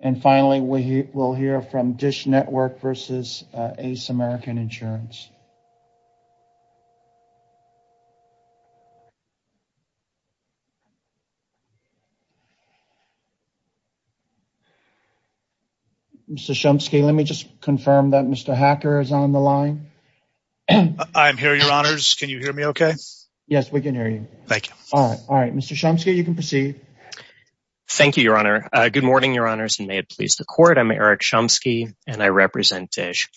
And finally, we will hear from Dish Network v. Ace American Insurance. Mr. Chomsky, let me just confirm that Mr. Hacker is on the line. I'm here, your honors. Can you hear me okay? Yes, we can hear you. Thank you. All right, all right. Mr. Chomsky, you can proceed. Thank you, your honor. Good morning, your honors, and may it please the court. I'm Eric Chomsky, and I represent Dish.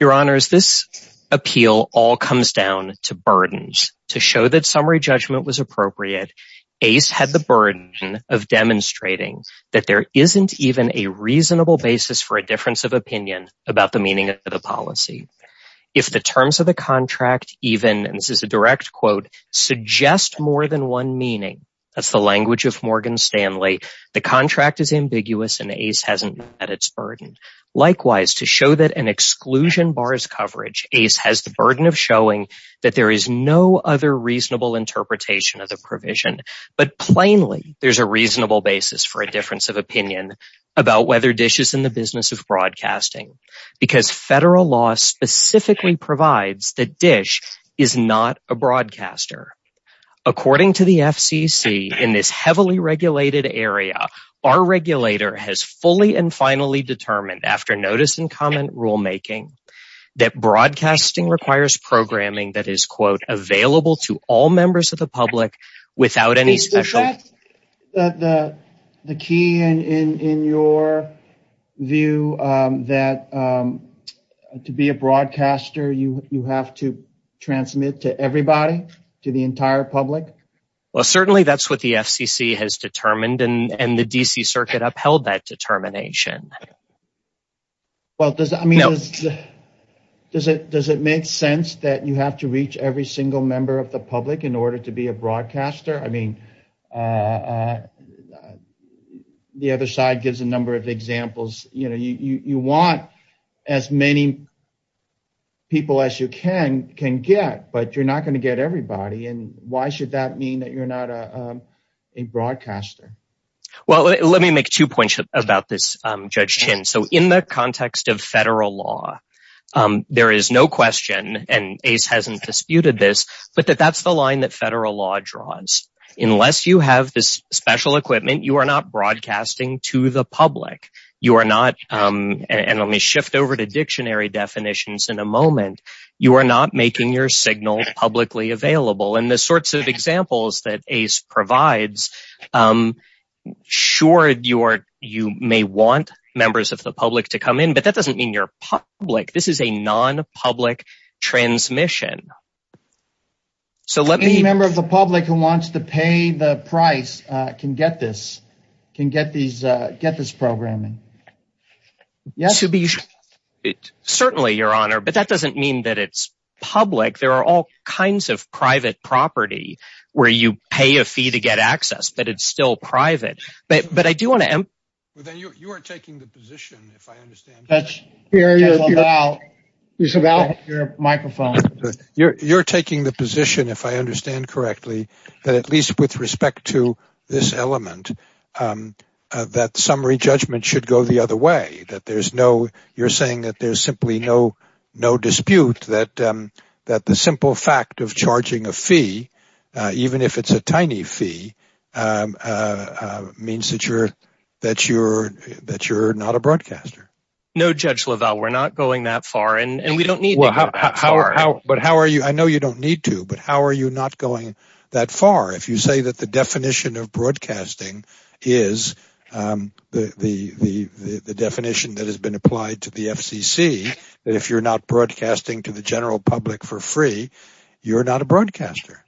Your honors, this appeal all comes down to burdens. To show that summary judgment was appropriate, Ace had the burden of demonstrating that there isn't even a reasonable basis for a difference of opinion about the meaning of the policy. If the terms of the contract even, and this is a direct quote, suggest more than one meaning, that's the Stanley, the contract is ambiguous and Ace hasn't met its burden. Likewise, to show that an exclusion bars coverage, Ace has the burden of showing that there is no other reasonable interpretation of the provision. But plainly, there's a reasonable basis for a difference of opinion about whether Dish is in the business of broadcasting. Because federal law specifically provides that Dish is not a broadcaster. According to the FCC, in this heavily regulated area, our regulator has fully and finally determined, after notice and comment rulemaking, that broadcasting requires programming that is, quote, available to all members of the public without any special... Is that the key in your view, that to be a broadcaster, you have to transmit to everybody, to the entire public? Well, certainly that's what the FCC has determined, and the D.C. Circuit upheld that determination. Well, does it make sense that you have to reach every single member of the public in order to be a broadcaster? I mean, the other side gives a number of examples. You want as many people as you can get, but you're not going to get everybody. And why should that mean that you're not a broadcaster? Well, let me make two points about this, Judge Chin. So in the context of federal law, there is no question, and ACE hasn't disputed this, but that that's the line that federal law draws. Unless you have this special equipment, you are not broadcasting to the public. You are not... And let me shift over to dictionary definitions in a moment. You are not making your signal publicly available. And the sorts of examples that ACE provides, sure, you may want members of the public to come in, but that doesn't mean you're public. This is a non-public transmission. So let me... Any member of the public who wants to pay the price can get this, can get this programming. Yes. Certainly, Your Honor, but that doesn't mean that it's public. There are all kinds of private property where you pay a fee to get access, but it's still private. But I do want to... You're taking the position, if I understand correctly, that at least with respect to this element, that summary judgment should go the other way. You're saying that there's simply no dispute that the simple fact of charging a fee, even if it's a tiny fee, means that you're not a broadcaster. No, Judge LaValle, we're not going that far, and we don't need to go that far. But how are you... I know you don't need to, but how are you not going that far? If you say that the definition of broadcasting is the definition that has been applied to the FCC, that if you're broadcasting to the general public for free, you're not a broadcaster.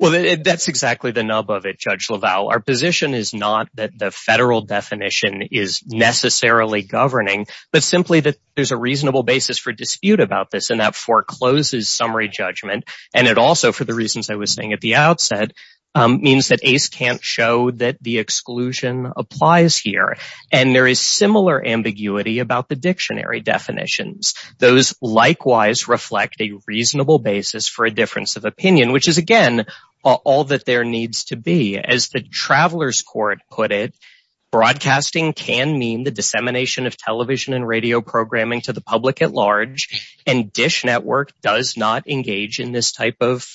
Well, that's exactly the nub of it, Judge LaValle. Our position is not that the federal definition is necessarily governing, but simply that there's a reasonable basis for dispute about this, and that forecloses summary judgment. And it also, for the reasons I was saying at the outset, means that ACE can't show that the exclusion applies here. And there is similar ambiguity about the dictionary definitions. Those likewise reflect a reasonable basis for a difference of opinion, which is, again, all that there needs to be. As the Traveler's Court put it, broadcasting can mean the dissemination of television and radio programming to the public at large, and DISH Network does not engage in this type of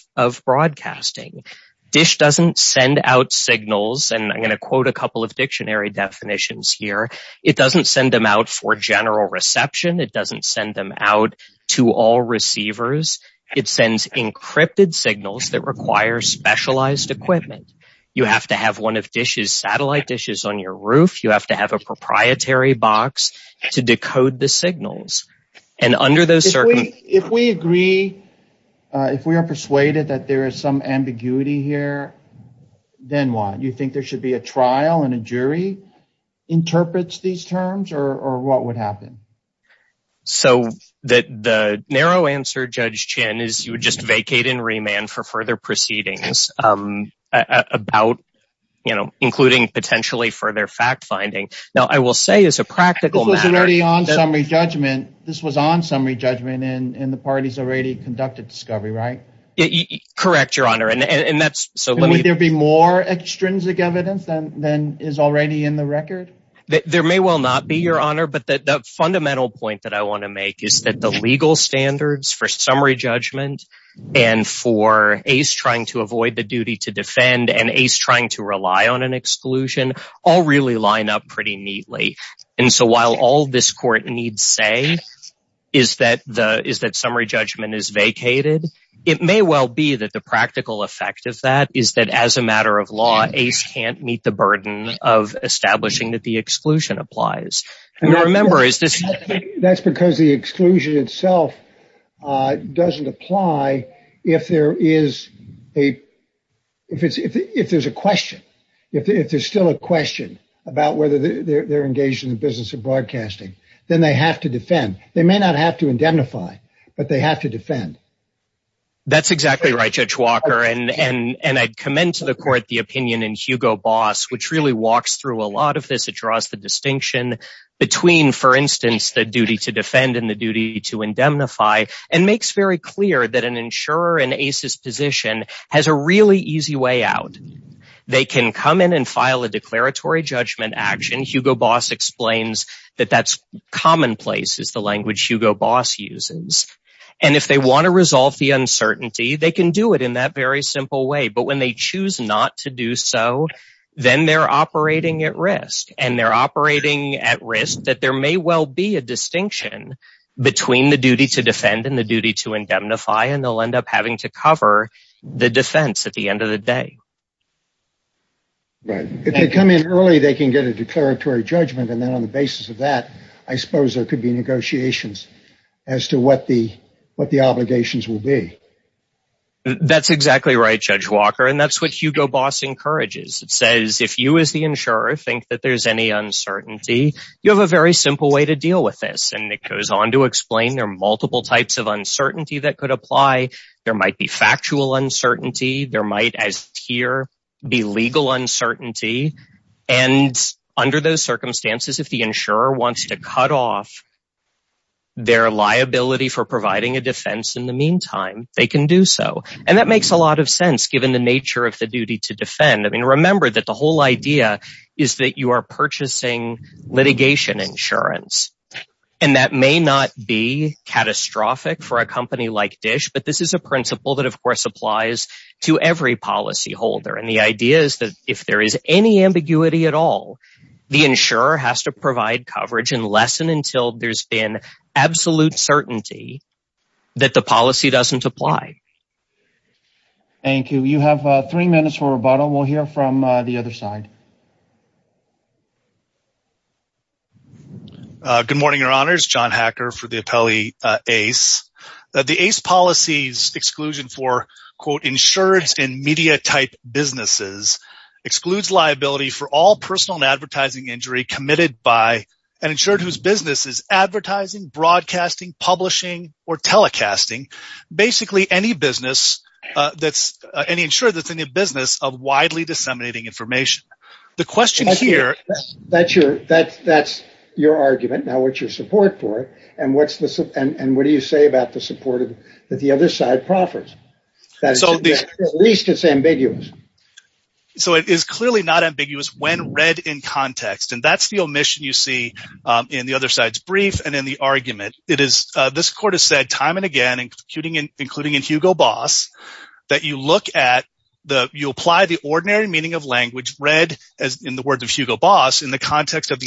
broadcasting. DISH doesn't send out signals, and I'm going to quote a couple of dictionary definitions here, it doesn't send out for general reception, it doesn't send them out to all receivers, it sends encrypted signals that require specialized equipment. You have to have one of DISH's satellite dishes on your roof, you have to have a proprietary box to decode the signals. And under those circumstances... If we agree, if we are persuaded that there is some ambiguity here, then what? You think there should be a trial and a jury interprets these terms, or what would happen? So the narrow answer, Judge Chinn, is you would just vacate and remand for further proceedings about, you know, including potentially further fact-finding. Now, I will say as a practical matter... This was already on summary judgment, this was on summary judgment, and the parties already there be more extrinsic evidence than is already in the record? There may well not be, Your Honor, but the fundamental point that I want to make is that the legal standards for summary judgment and for ACE trying to avoid the duty to defend and ACE trying to rely on an exclusion all really line up pretty neatly. And so while all this court needs say is that summary judgment is vacated, it may well be that the practical effect of that is that as a matter of law, ACE can't meet the burden of establishing that the exclusion applies. And remember, is this... That's because the exclusion itself doesn't apply if there is a... If there's a question, if there's still a question about whether they're engaged in the business of broadcasting, then they have to defend. They may not have to indemnify, but they have to defend. That's exactly right, Judge Walker. And I'd commend to the court the opinion in Hugo Boss, which really walks through a lot of this. It draws the distinction between, for instance, the duty to defend and the duty to indemnify, and makes very clear that an insurer in ACE's position has a really easy way out. They can come in and file a declaratory judgment action. Hugo commonplace is the language Hugo Boss uses. And if they want to resolve the uncertainty, they can do it in that very simple way. But when they choose not to do so, then they're operating at risk. And they're operating at risk that there may well be a distinction between the duty to defend and the duty to indemnify, and they'll end up having to cover the defense at the end of the day. Right. If they come in early, they can get a negotiations as to what the obligations will be. That's exactly right, Judge Walker. And that's what Hugo Boss encourages. It says, if you as the insurer think that there's any uncertainty, you have a very simple way to deal with this. And it goes on to explain there are multiple types of uncertainty that could apply. There might be factual uncertainty. There might as here be legal uncertainty. And under those circumstances, if the insurer wants to cut off their liability for providing a defense in the meantime, they can do so. And that makes a lot of sense given the nature of the duty to defend. I mean, remember that the whole idea is that you are purchasing litigation insurance. And that may not be catastrophic for a company like DISH, but this is a principle that of course applies to every policyholder. And the idea is that if there is any ambiguity at all, the insurer has to provide coverage and lessen until there's been absolute certainty that the policy doesn't apply. Thank you. You have three minutes for rebuttal. We'll hear from the other side. Good morning, your honors. John Hacker for ACE. The ACE policy's exclusion for, quote, insured in media type businesses excludes liability for all personal and advertising injury committed by an insured whose business is advertising, broadcasting, publishing, or telecasting. Basically, any insured that's in the business of widely disseminating information. That's your argument. Now what's your support for it? And what do you say about the support that the other side proffers? At least it's ambiguous. So it is clearly not ambiguous when read in context. And that's the omission you see in the other side's brief and in the argument. This court has said time and again, including in Hugo Boss, that you apply the ordinary meaning of language read in the words of Hugo Boss in the context of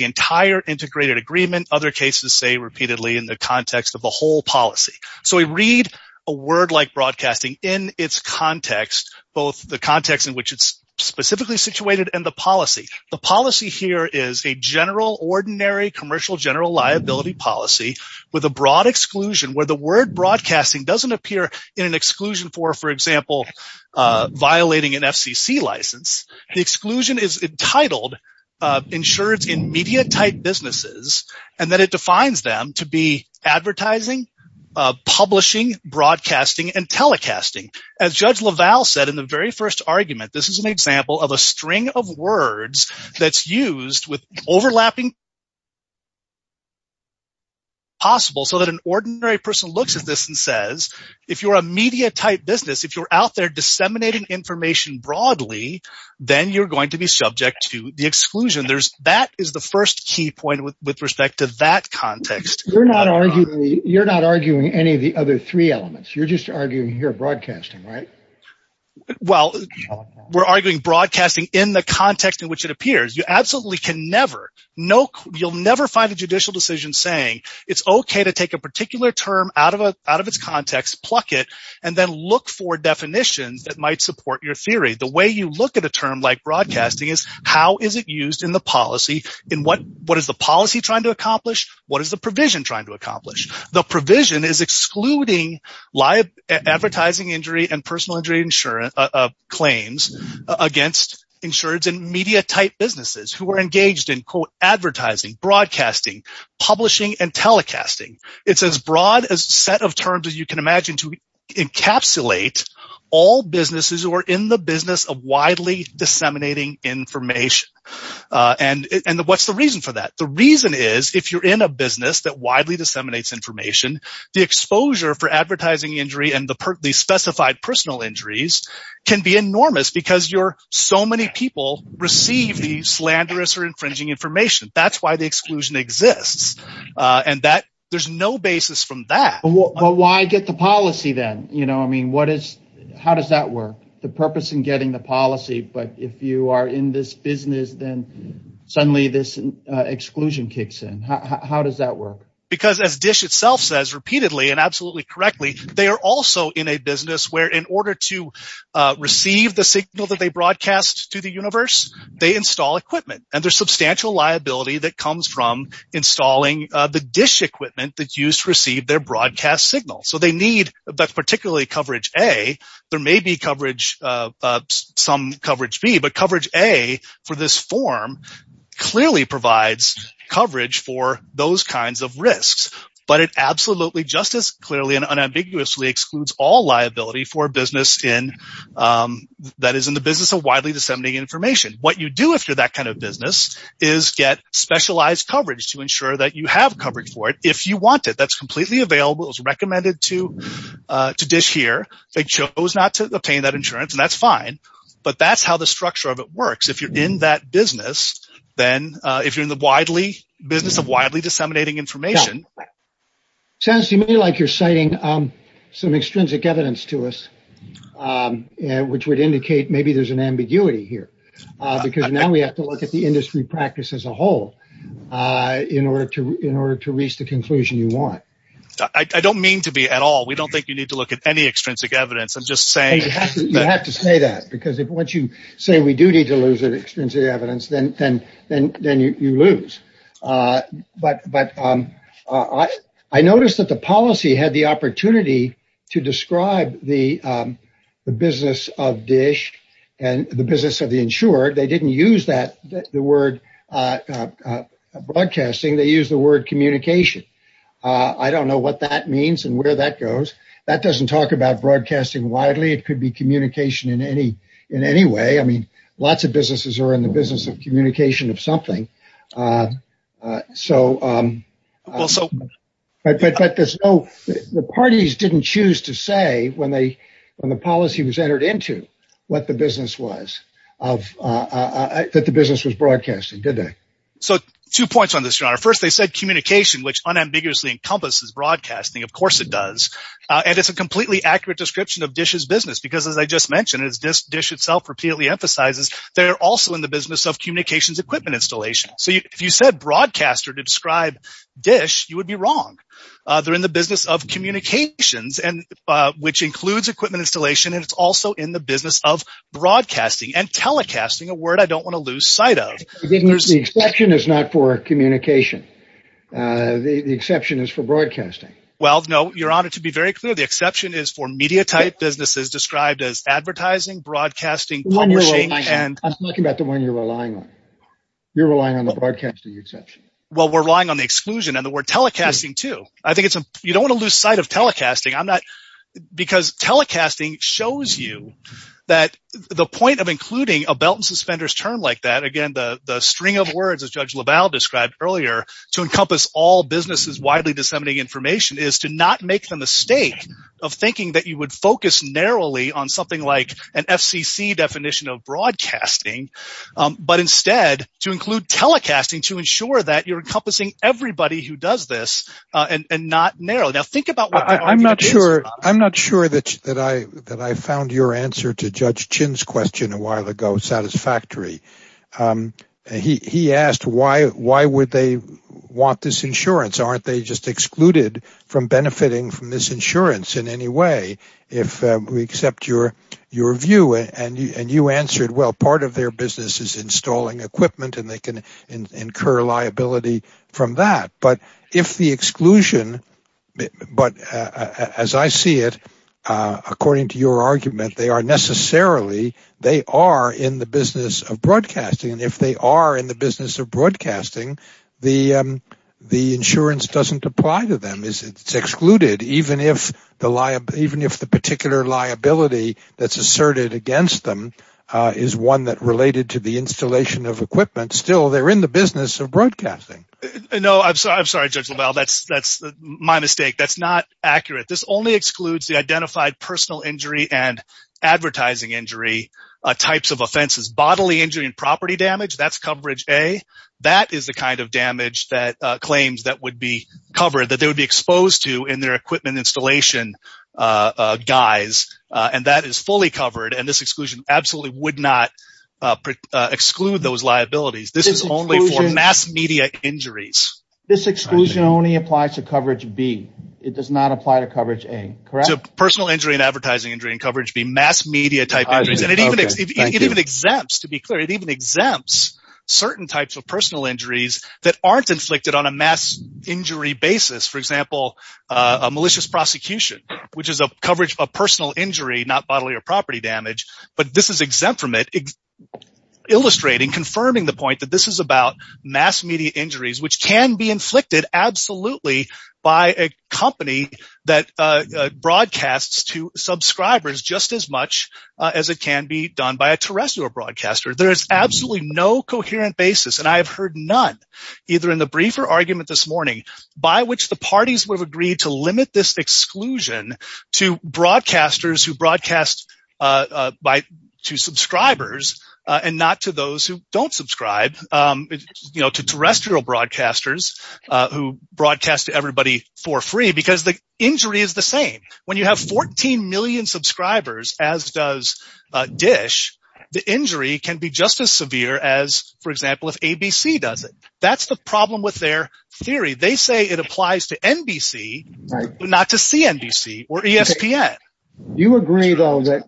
the whole policy. So we read a word like broadcasting in its context, both the context in which it's specifically situated and the policy. The policy here is a general, ordinary, commercial general liability policy with a broad exclusion where the word broadcasting doesn't appear in an exclusion for, for example, violating an FCC license. The exclusion is entitled insureds in media type businesses and that it defines them to be advertising, publishing, broadcasting, and telecasting. As Judge LaValle said in the very first argument, this is an example of a string of words that's used with overlapping possible so that an ordinary person looks at this and says, if you're a media type business, if you're out there disseminating information broadly, then you're going to be subject to the exclusion. That is the first key point with respect to that context. You're not arguing any of the other three elements. You're just arguing here broadcasting, right? Well, we're arguing broadcasting in the context in which it appears. You absolutely can never, no, you'll never find a judicial decision saying it's okay to take a particular term out of a, out of its context, pluck it, and then look for definitions that might support your theory. The way you look at a term like broadcasting is how is it used in the policy? In what, what is the policy trying to accomplish? What is the provision trying to accomplish? The provision is excluding live advertising injury and personal injury insurance claims against insureds in media type businesses who are engaged in quote advertising, broadcasting, publishing, and telecasting. It's as broad as set of terms as you can imagine to encapsulate all businesses who are in the business of widely disseminating information. And what's the reason for that? The reason is if you're in a business that widely disseminates information, the exposure for advertising injury and the perfectly specified personal injuries can be enormous because you're so many people receive the slanderous or infringing information. That's why the exclusion exists. And that there's no basis from that. But why get the policy then? You know, I mean, what is, how does that work? The purpose in getting the policy, but if you are in this business, then suddenly this exclusion kicks in. How does that work? Because as Dish itself says repeatedly and absolutely correctly, they are also in a business where in order to receive the signal that they broadcast to the universe, they install equipment and there's substantial liability that comes from installing the Dish equipment that's used to receive their broadcast signal. So they need, particularly coverage A, there may be coverage, some coverage B, but coverage A for this form clearly provides coverage for those kinds of risks. But it absolutely just as clearly and unambiguously excludes all liability for a business in, that is in the business of widely disseminating information. What you do if you're that kind of business is get specialized coverage to ensure that you have coverage for it. If you want it, that's completely available. It was recommended to Dish here. They chose not to obtain that insurance and that's fine, but that's how the structure of it works. If you're in that business, then if you're in the widely, business of widely disseminating information. Sounds to me like you're citing some extrinsic evidence to us, which would indicate maybe there's an ambiguity here because now we have to look at the industry practice as a whole in order to reach the conclusion you want. I don't mean to be at all. We don't think you need to look at any extrinsic evidence. I'm just saying. You have to say that because if once you say we do need to lose that extrinsic evidence, then you lose. But I noticed that the policy had the opportunity to describe the business of Dish and the business of the broadcasting. They use the word communication. I don't know what that means and where that goes. That doesn't talk about broadcasting widely. It could be communication in any way. I mean, lots of businesses are in the business of communication of something. The parties didn't choose to say when the policy was entered into what the business was of that the business was broadcasting, did they? So two points on this, your honor. First, they said communication, which unambiguously encompasses broadcasting. Of course it does. And it's a completely accurate description of Dish's business because, as I just mentioned, it's just Dish itself repeatedly emphasizes they're also in the business of communications equipment installation. So if you said broadcaster to describe Dish, you would be wrong. They're in the business of communications and which includes equipment installation. And it's also in the of broadcasting and telecasting, a word I don't want to lose sight of. The exception is not for communication. The exception is for broadcasting. Well, no, your honor. To be very clear, the exception is for media type businesses described as advertising, broadcasting, publishing. I'm talking about the one you're relying on. You're relying on the broadcasting exception. Well, we're relying on the exclusion and the word telecasting, too. I think it's you don't want to lose sight of telecasting. I'm not because telecasting shows you that the point of including a belt and suspenders term like that, again, the string of words, as Judge LaValle described earlier, to encompass all businesses widely disseminating information is to not make the mistake of thinking that you would focus narrowly on something like an FCC definition of broadcasting, but instead to include telecasting to ensure that you're encompassing everybody who does this and not narrow. Now, think about I'm not sure. I'm not sure that that I that I found your answer to Judge Chin's question a while ago satisfactory. He asked why why would they want this insurance? Aren't they just excluded from benefiting from this insurance in any way? If we accept your your view and you answered, well, part of their business is installing equipment and they can incur liability from that. But if the exclusion but as I see it, according to your argument, they are necessarily they are in the business of broadcasting. And if they are in the business of broadcasting, the the insurance doesn't apply to them. It's excluded even if the liability even if the particular liability that's asserted against them is one that related to the installation of equipment. Still, they're in the business of broadcasting. No, I'm sorry. I'm sorry, Judge. Well, that's that's my mistake. That's not accurate. This only excludes the identified personal injury and advertising injury types of offenses, bodily injury and property damage. That's coverage a that is the kind of damage that claims that would be covered that they would be exposed to in their equipment installation guys. And that is fully covered. And this exclusion absolutely would not exclude those liabilities. This is only for mass media injuries. This exclusion only applies to coverage B. It does not apply to coverage a personal injury and advertising injury and coverage be mass media type. And it even it even exempts to be clear, it even exempts certain types of personal injuries that aren't inflicted on a mass injury basis. For example, a malicious prosecution, which is a coverage of personal injury, not bodily or property damage. But this is exempt from it. Illustrating confirming the point that this is about mass media injuries, which can be inflicted absolutely by a company that broadcasts to subscribers just as much as it can be done by a terrestrial broadcaster. There is absolutely no coherent basis. And I have heard none, either in the briefer argument this morning, by which the parties would have agreed to limit this exclusion to broadcasters who broadcast by two subscribers, and not to those who don't subscribe, you know, to terrestrial broadcasters, who broadcast to everybody for free, because the injury is the same. When you have 14 million subscribers, as does dish, the injury can be just as severe as, for example, if ABC does it. That's the problem with their theory. They say it applies to NBC, not to CNBC, or ESPN. You agree, though, that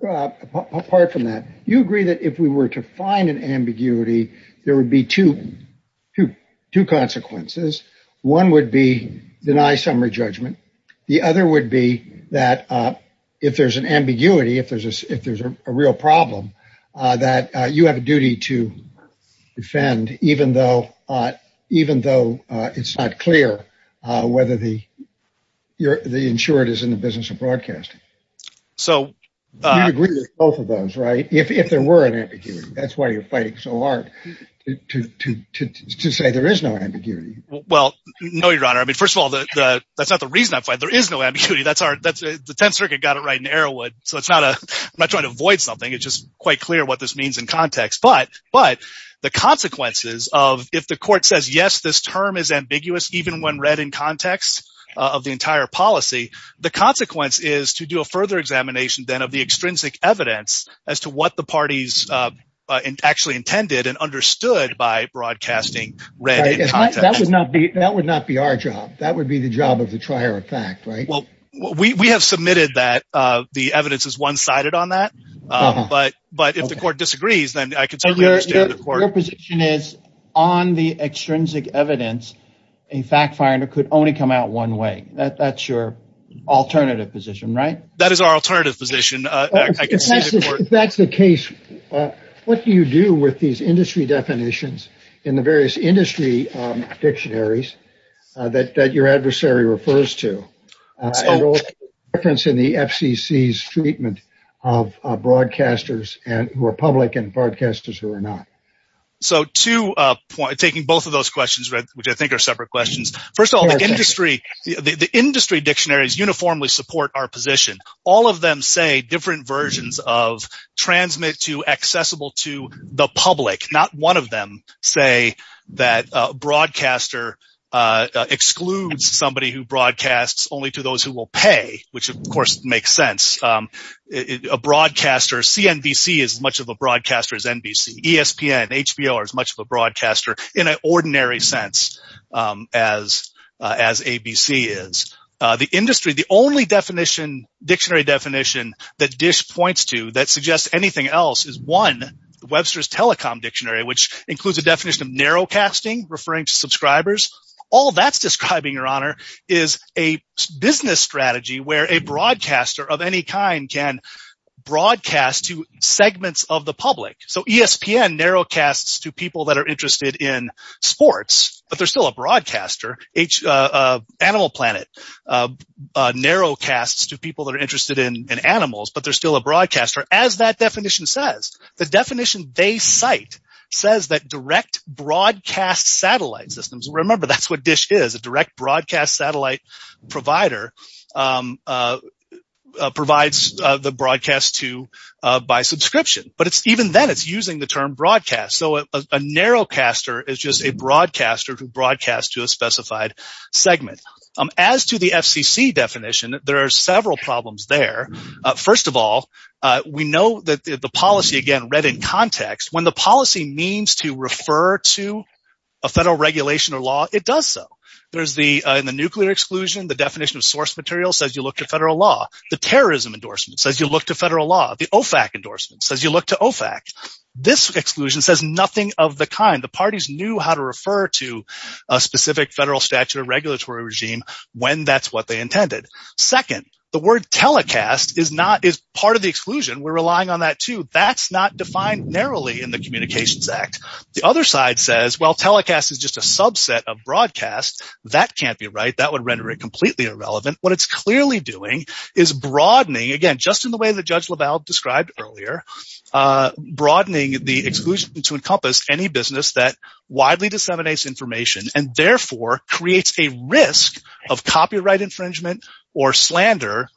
apart from that, you agree that if we were to find an ambiguity, there would be two, two, two consequences. One would be deny summary judgment. The other would be that if there's an ambiguity, if there's a if there's a real problem, that you have a duty to defend, even though even though it's not clear whether the you're the insured is in the business of broadcasting. So I agree with both of those, right? If there were an ambiguity, that's why you're fighting so hard to say there is no ambiguity. Well, no, Your Honor. I mean, first of all, that's not the reason I fight. There is no ambiguity. That's our that's the 10th Circuit got it right in Arrowwood. So it's not a I'm not trying to avoid something. It's just quite clear what this means in context. But But the consequences of if the court says yes, this term is ambiguous, even when read in context of the entire policy, the consequence is to do a further examination then of the extrinsic evidence as to what the parties actually intended and understood by broadcasting. Right? That would not be that would not be our job. That would be the job of the trier of fact, right? Well, we have submitted that the evidence is one sided on that. But But the court disagrees, then I can certainly understand that your position is on the extrinsic evidence. A fact finder could only come out one way that that's your alternative position, right? That is our alternative position. That's the case. What do you do with these industry definitions in the various industry dictionaries that your adversary refers to reference in the FCC's of broadcasters and who are public and broadcasters who are not? So to point taking both of those questions, right, which I think are separate questions. First of all, the industry, the industry dictionaries uniformly support our position, all of them say different versions of transmit to accessible to the public, not one of them say that broadcaster excludes somebody who broadcasts only to those who will pay, which of course makes sense. A broadcaster CNBC is much of a broadcaster as NBC, ESPN, HBO are as much of a broadcaster in an ordinary sense, as, as ABC is the industry, the only definition dictionary definition that dish points to that suggests anything else is one Webster's telecom dictionary, which includes a definition of narrow casting referring to a broadcaster of any kind can broadcast to segments of the public. So ESPN narrow casts to people that are interested in sports, but there's still a broadcaster, each animal planet narrow casts to people that are interested in animals, but there's still a broadcaster as that definition says, the definition they cite says that direct broadcast satellite systems. Remember, that's what dish is a direct broadcast satellite provider provides the broadcast to by subscription, but it's even then it's using the term broadcast. So a narrow caster is just a broadcaster to broadcast to a specified segment. As to the FCC definition, there are several problems there. First of all, we know that the policy again, read in context, when the policy means to refer to a federal regulation or law, it does. So there's the, in the nuclear exclusion, the definition of source material says you look to federal law, the terrorism endorsement says you look to federal law, the OFAC endorsement says you look to OFAC. This exclusion says nothing of the kind the parties knew how to refer to a specific federal statute of regulatory regime when that's what they intended. Second, the word telecast is not as part of the exclusion. We're The other side says, well, telecast is just a subset of broadcast. That can't be right. That would render it completely irrelevant. What it's clearly doing is broadening again, just in the way that Judge LaValle described earlier, broadening the exclusion to encompass any business that widely disseminates information and therefore creates a risk of copyright infringement or slander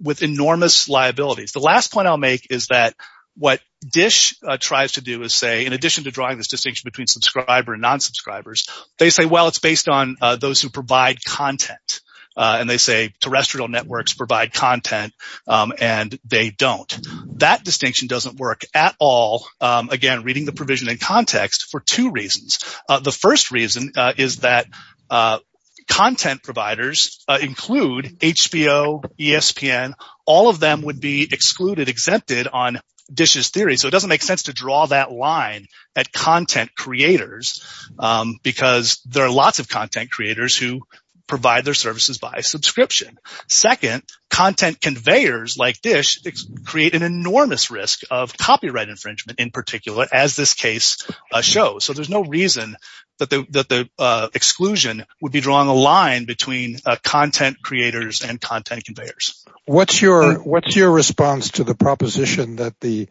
with enormous liabilities. The last point I'll make is that what dish tries to do is in addition to drawing this distinction between subscriber and non-subscribers, they say, well, it's based on those who provide content. And they say terrestrial networks provide content and they don't. That distinction doesn't work at all. Again, reading the provision in context for two reasons. The first reason is that content providers include HBO, ESPN, all of them would be excluded, exempted on DISH's theory. So it doesn't make sense to draw that line at content creators because there are lots of content creators who provide their services by subscription. Second, content conveyors like DISH create an enormous risk of copyright infringement in particular, as this case shows. So there's no reason that the exclusion would be drawing a line between content creators and content conveyors. What's your response to the proposition that the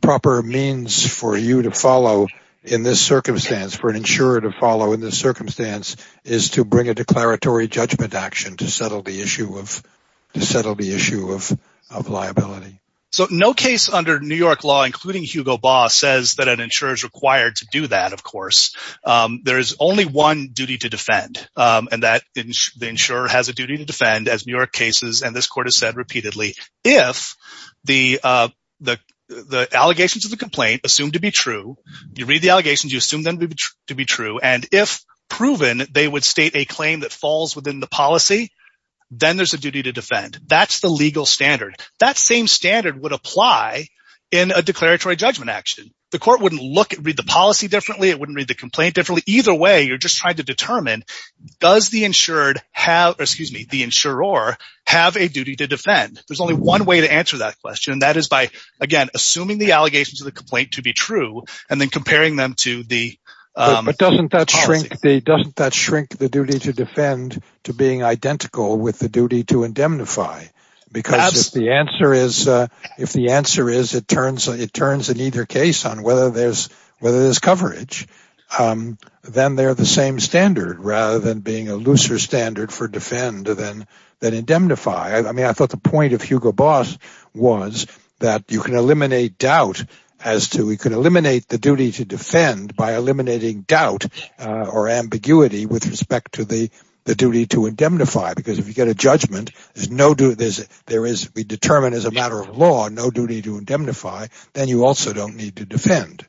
proper means for you to follow in this circumstance, for an insurer to follow in this circumstance, is to bring a declaratory judgment action to settle the issue of liability? So no case under New York law, including Hugo Baugh, says that an insurer is required to do that, of course. There is only one duty to defend, and that the insurer has a duty to defend, as New York cases and this court has said repeatedly. If the allegations of the complaint are assumed to be true, you read the allegations, you assume them to be true, and if proven, they would state a claim that falls within the policy, then there's a duty to defend. That's the legal standard. That same standard would apply in a declaratory judgment action. The court wouldn't read the policy differently, it wouldn't read the complaint differently. Either way, you're just trying to determine, does the insured have, excuse me, the insurer have a duty to defend? There's only one way to answer that question, and that is by, again, assuming the allegations of the complaint to be true, and then comparing them to the policy. But doesn't that shrink the duty to defend to being identical with the duty to indemnify? Because if the answer is it turns in either case on whether there's coverage, then they're the same standard rather than being a looser standard for defend than indemnify. I mean, I thought the point of Hugo Boss was that you can eliminate doubt as to, you can eliminate the duty to defend by eliminating doubt or ambiguity with respect to the duty to indemnify, because if you get a judgment, there is, we determine as a matter of law, no duty to indemnify, then you also don't need to defend.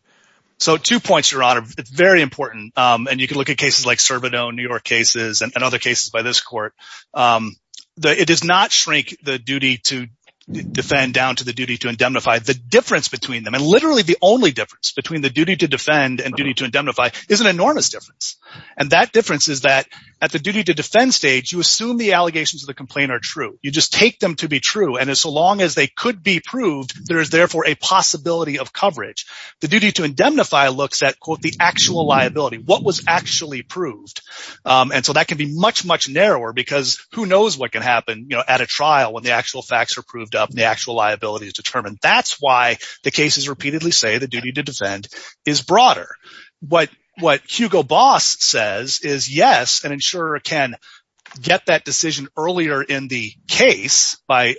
So two points, Your Honor. It's very important, and you can look at cases like Cervino, New York cases, and other cases by this court. It does not shrink the duty to defend down to the duty to indemnify. The difference between them, and literally the only difference between the duty to defend and duty to indemnify, is an enormous difference. And that difference is that at the You just take them to be true, and as long as they could be proved, there is therefore a possibility of coverage. The duty to indemnify looks at, quote, the actual liability, what was actually proved. And so that can be much, much narrower, because who knows what can happen at a trial when the actual facts are proved up, and the actual liability is determined. That's why the cases repeatedly say the duty to defend is broader. What Hugo Boss says is, yes, an insurer can get that decision earlier in the case by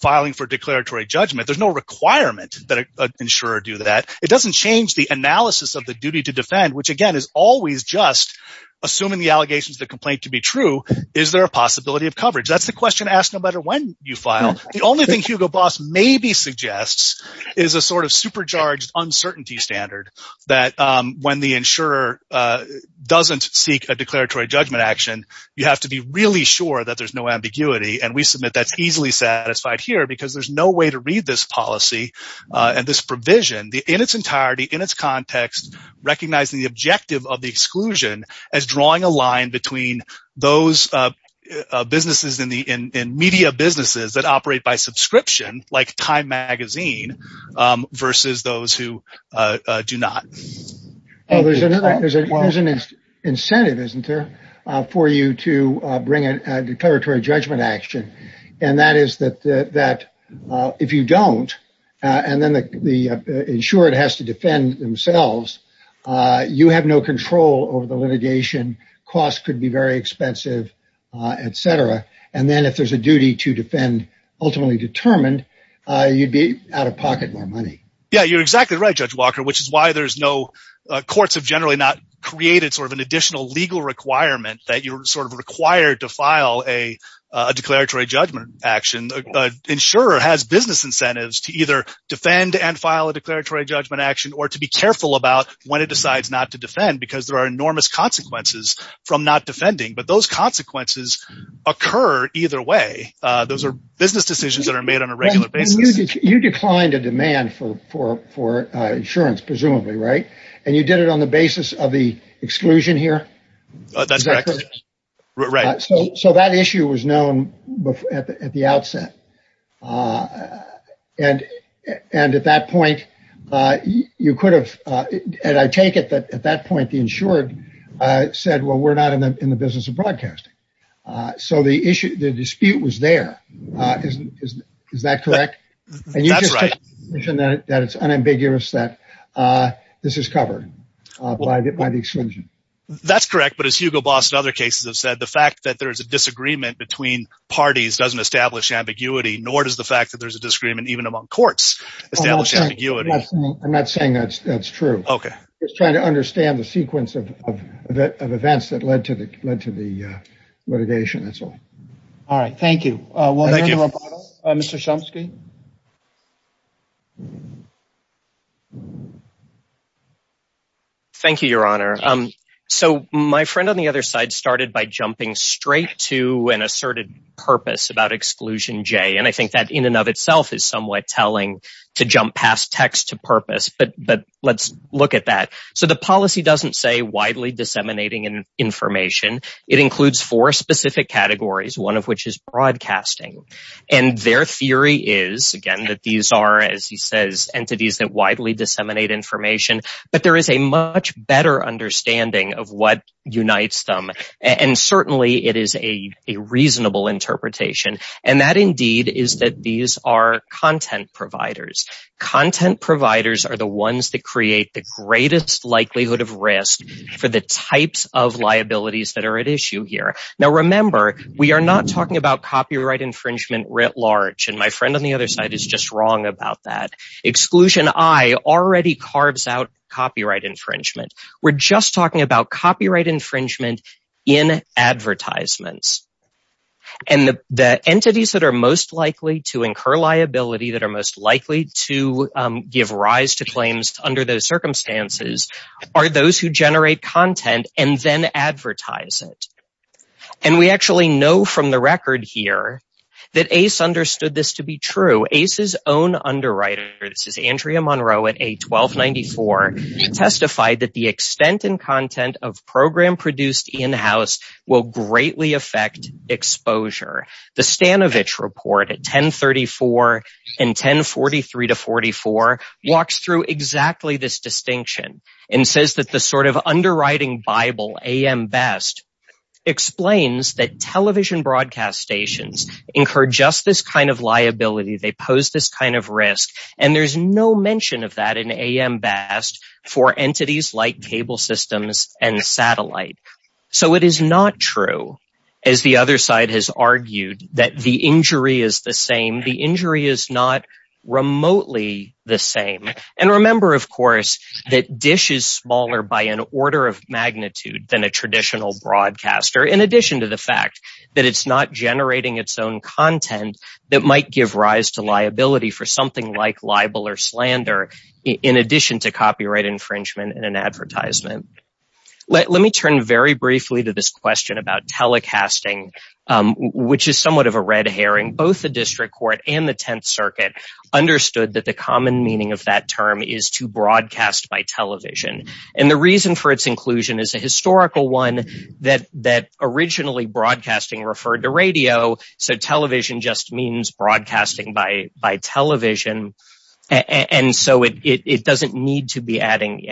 filing for declaratory judgment. There's no requirement that an insurer do that. It doesn't change the analysis of the duty to defend, which again, is always just assuming the allegations of the complaint to be true. Is there a possibility of coverage? That's the question asked no matter when you file. The only thing Hugo Boss maybe suggests is a sort of supercharged uncertainty standard, that when the insurer doesn't seek a sure that there's no ambiguity, and we submit that's easily satisfied here, because there's no way to read this policy and this provision in its entirety, in its context, recognizing the objective of the exclusion as drawing a line between those media businesses that operate by subscription, like Time Magazine, versus those who do not. There's an incentive, isn't there, for you to bring a declaratory judgment action. That is that if you don't, and then the insurer has to defend themselves, you have no control over the litigation, costs could be very expensive, etc. Then if there's a duty to defend ultimately determined, you'd be out of pocket more money. Yeah, you're exactly right, Judge Walker, which is why courts have generally not an additional legal requirement that you're required to file a declaratory judgment action. Insurer has business incentives to either defend and file a declaratory judgment action, or to be careful about when it decides not to defend, because there are enormous consequences from not defending, but those consequences occur either way. Those are business decisions that are made on a regular basis. You declined a demand for insurance, presumably, right? You did it on basis of the exclusion here. That's correct. That issue was known at the outset. At that point, you could have, and I take it that at that point, the insured said, well, we're not in the business of broadcasting. The dispute was there. Is that correct? That's right. It's unambiguous that this is covered by the exclusion. That's correct, but as Hugo Boss and other cases have said, the fact that there's a disagreement between parties doesn't establish ambiguity, nor does the fact that there's a disagreement even among courts establish ambiguity. I'm not saying that's true. Okay. Just trying to understand the sequence of events that led to the litigation. That's all. All right. Thank you. Mr. Chomsky. Thank you, your honor. My friend on the other side started by jumping straight to an asserted purpose about exclusion J. I think that in and of itself is somewhat telling to jump past text to purpose, but let's look at that. The policy doesn't say widely disseminating information. It includes four specific categories, one of which is broadcasting. Their theory is, again, that these are, as he says, entities that widely disseminate information, but there is a much better understanding of what unites them. Certainly, it is a reasonable interpretation. That indeed is that these are content providers. Content providers are the ones that create the greatest likelihood of risk for the types of liabilities that are at issue here. Now, remember, we are not talking about copyright infringement writ large, and my friend on the other side is just wrong about that. Exclusion I already carves out copyright infringement. We're just talking about copyright infringement in advertisements. The entities that are most under those circumstances are those who generate content and then advertise it. And we actually know from the record here that Ace understood this to be true. Ace's own underwriter, this is Andrea Monroe at A1294, testified that the extent and content of program produced in-house will greatly affect exposure. The Stanovich report at 1034 and 1043-44 walks through exactly this distinction and says that the sort of underwriting bible, A.M. Best, explains that television broadcast stations incur just this kind of liability. They pose this kind of risk, and there's no mention of that in A.M. Best for entities like cable systems and satellite. So it is not true, as the other side has argued, that the injury is the same. The injury is not remotely the same. And remember, of course, that Dish is smaller by an order of magnitude than a traditional broadcaster in addition to the fact that it's not generating its own content that might give rise to liability for something like libel or slander in addition to copyright infringement in an advertisement. Let me turn very briefly to this question about telecasting, which is somewhat of a red herring. Both the District Court and the Tenth Circuit understood that the common meaning of that term is to broadcast by television. And the reason for its inclusion is a historical one, that originally broadcasting referred to radio, so television just means broadcasting by television. And so it doesn't need to be evidence.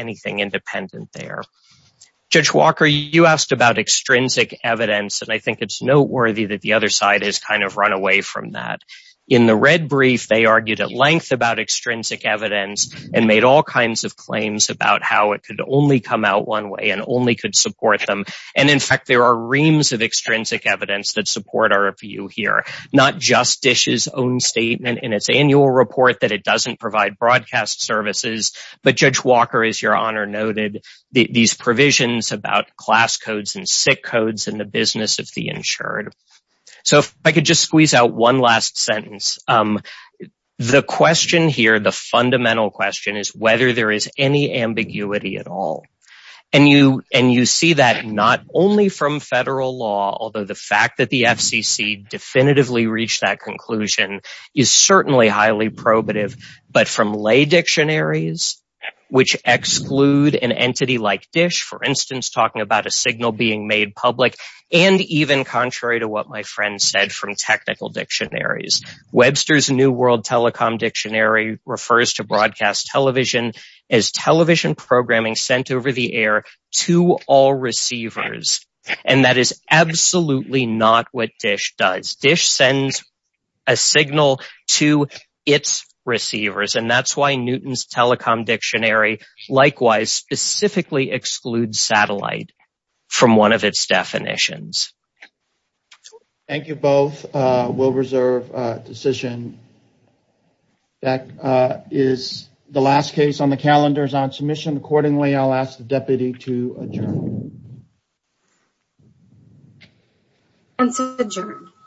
And I think it's noteworthy that the other side has kind of run away from that. In the red brief, they argued at length about extrinsic evidence and made all kinds of claims about how it could only come out one way and only could support them. And in fact, there are reams of extrinsic evidence that support our view here, not just Dish's own statement in its annual report that it doesn't provide broadcast services. But Judge Walker, as Your Honor noted, these provisions about class codes and sick codes in the business of the insured. So if I could just squeeze out one last sentence. The question here, the fundamental question, is whether there is any ambiguity at all. And you see that not only from federal law, although the fact that the FCC definitively reached that conclusion is certainly highly probative, but from lay dictionaries, which exclude an entity like Dish, for instance, talking about a signal being made public, and even contrary to what my friend said from technical dictionaries. Webster's New World Telecom Dictionary refers to broadcast television as television programming sent over the air to all receivers. And that is absolutely not what Dish does. Dish sends a signal to its receivers, and that's why Newton's Telecom Dictionary likewise specifically excludes satellite from one of its definitions. Thank you both. We'll reserve a decision. That is the last case on the calendars on submission. Accordingly, I'll ask the deputy to adjourn.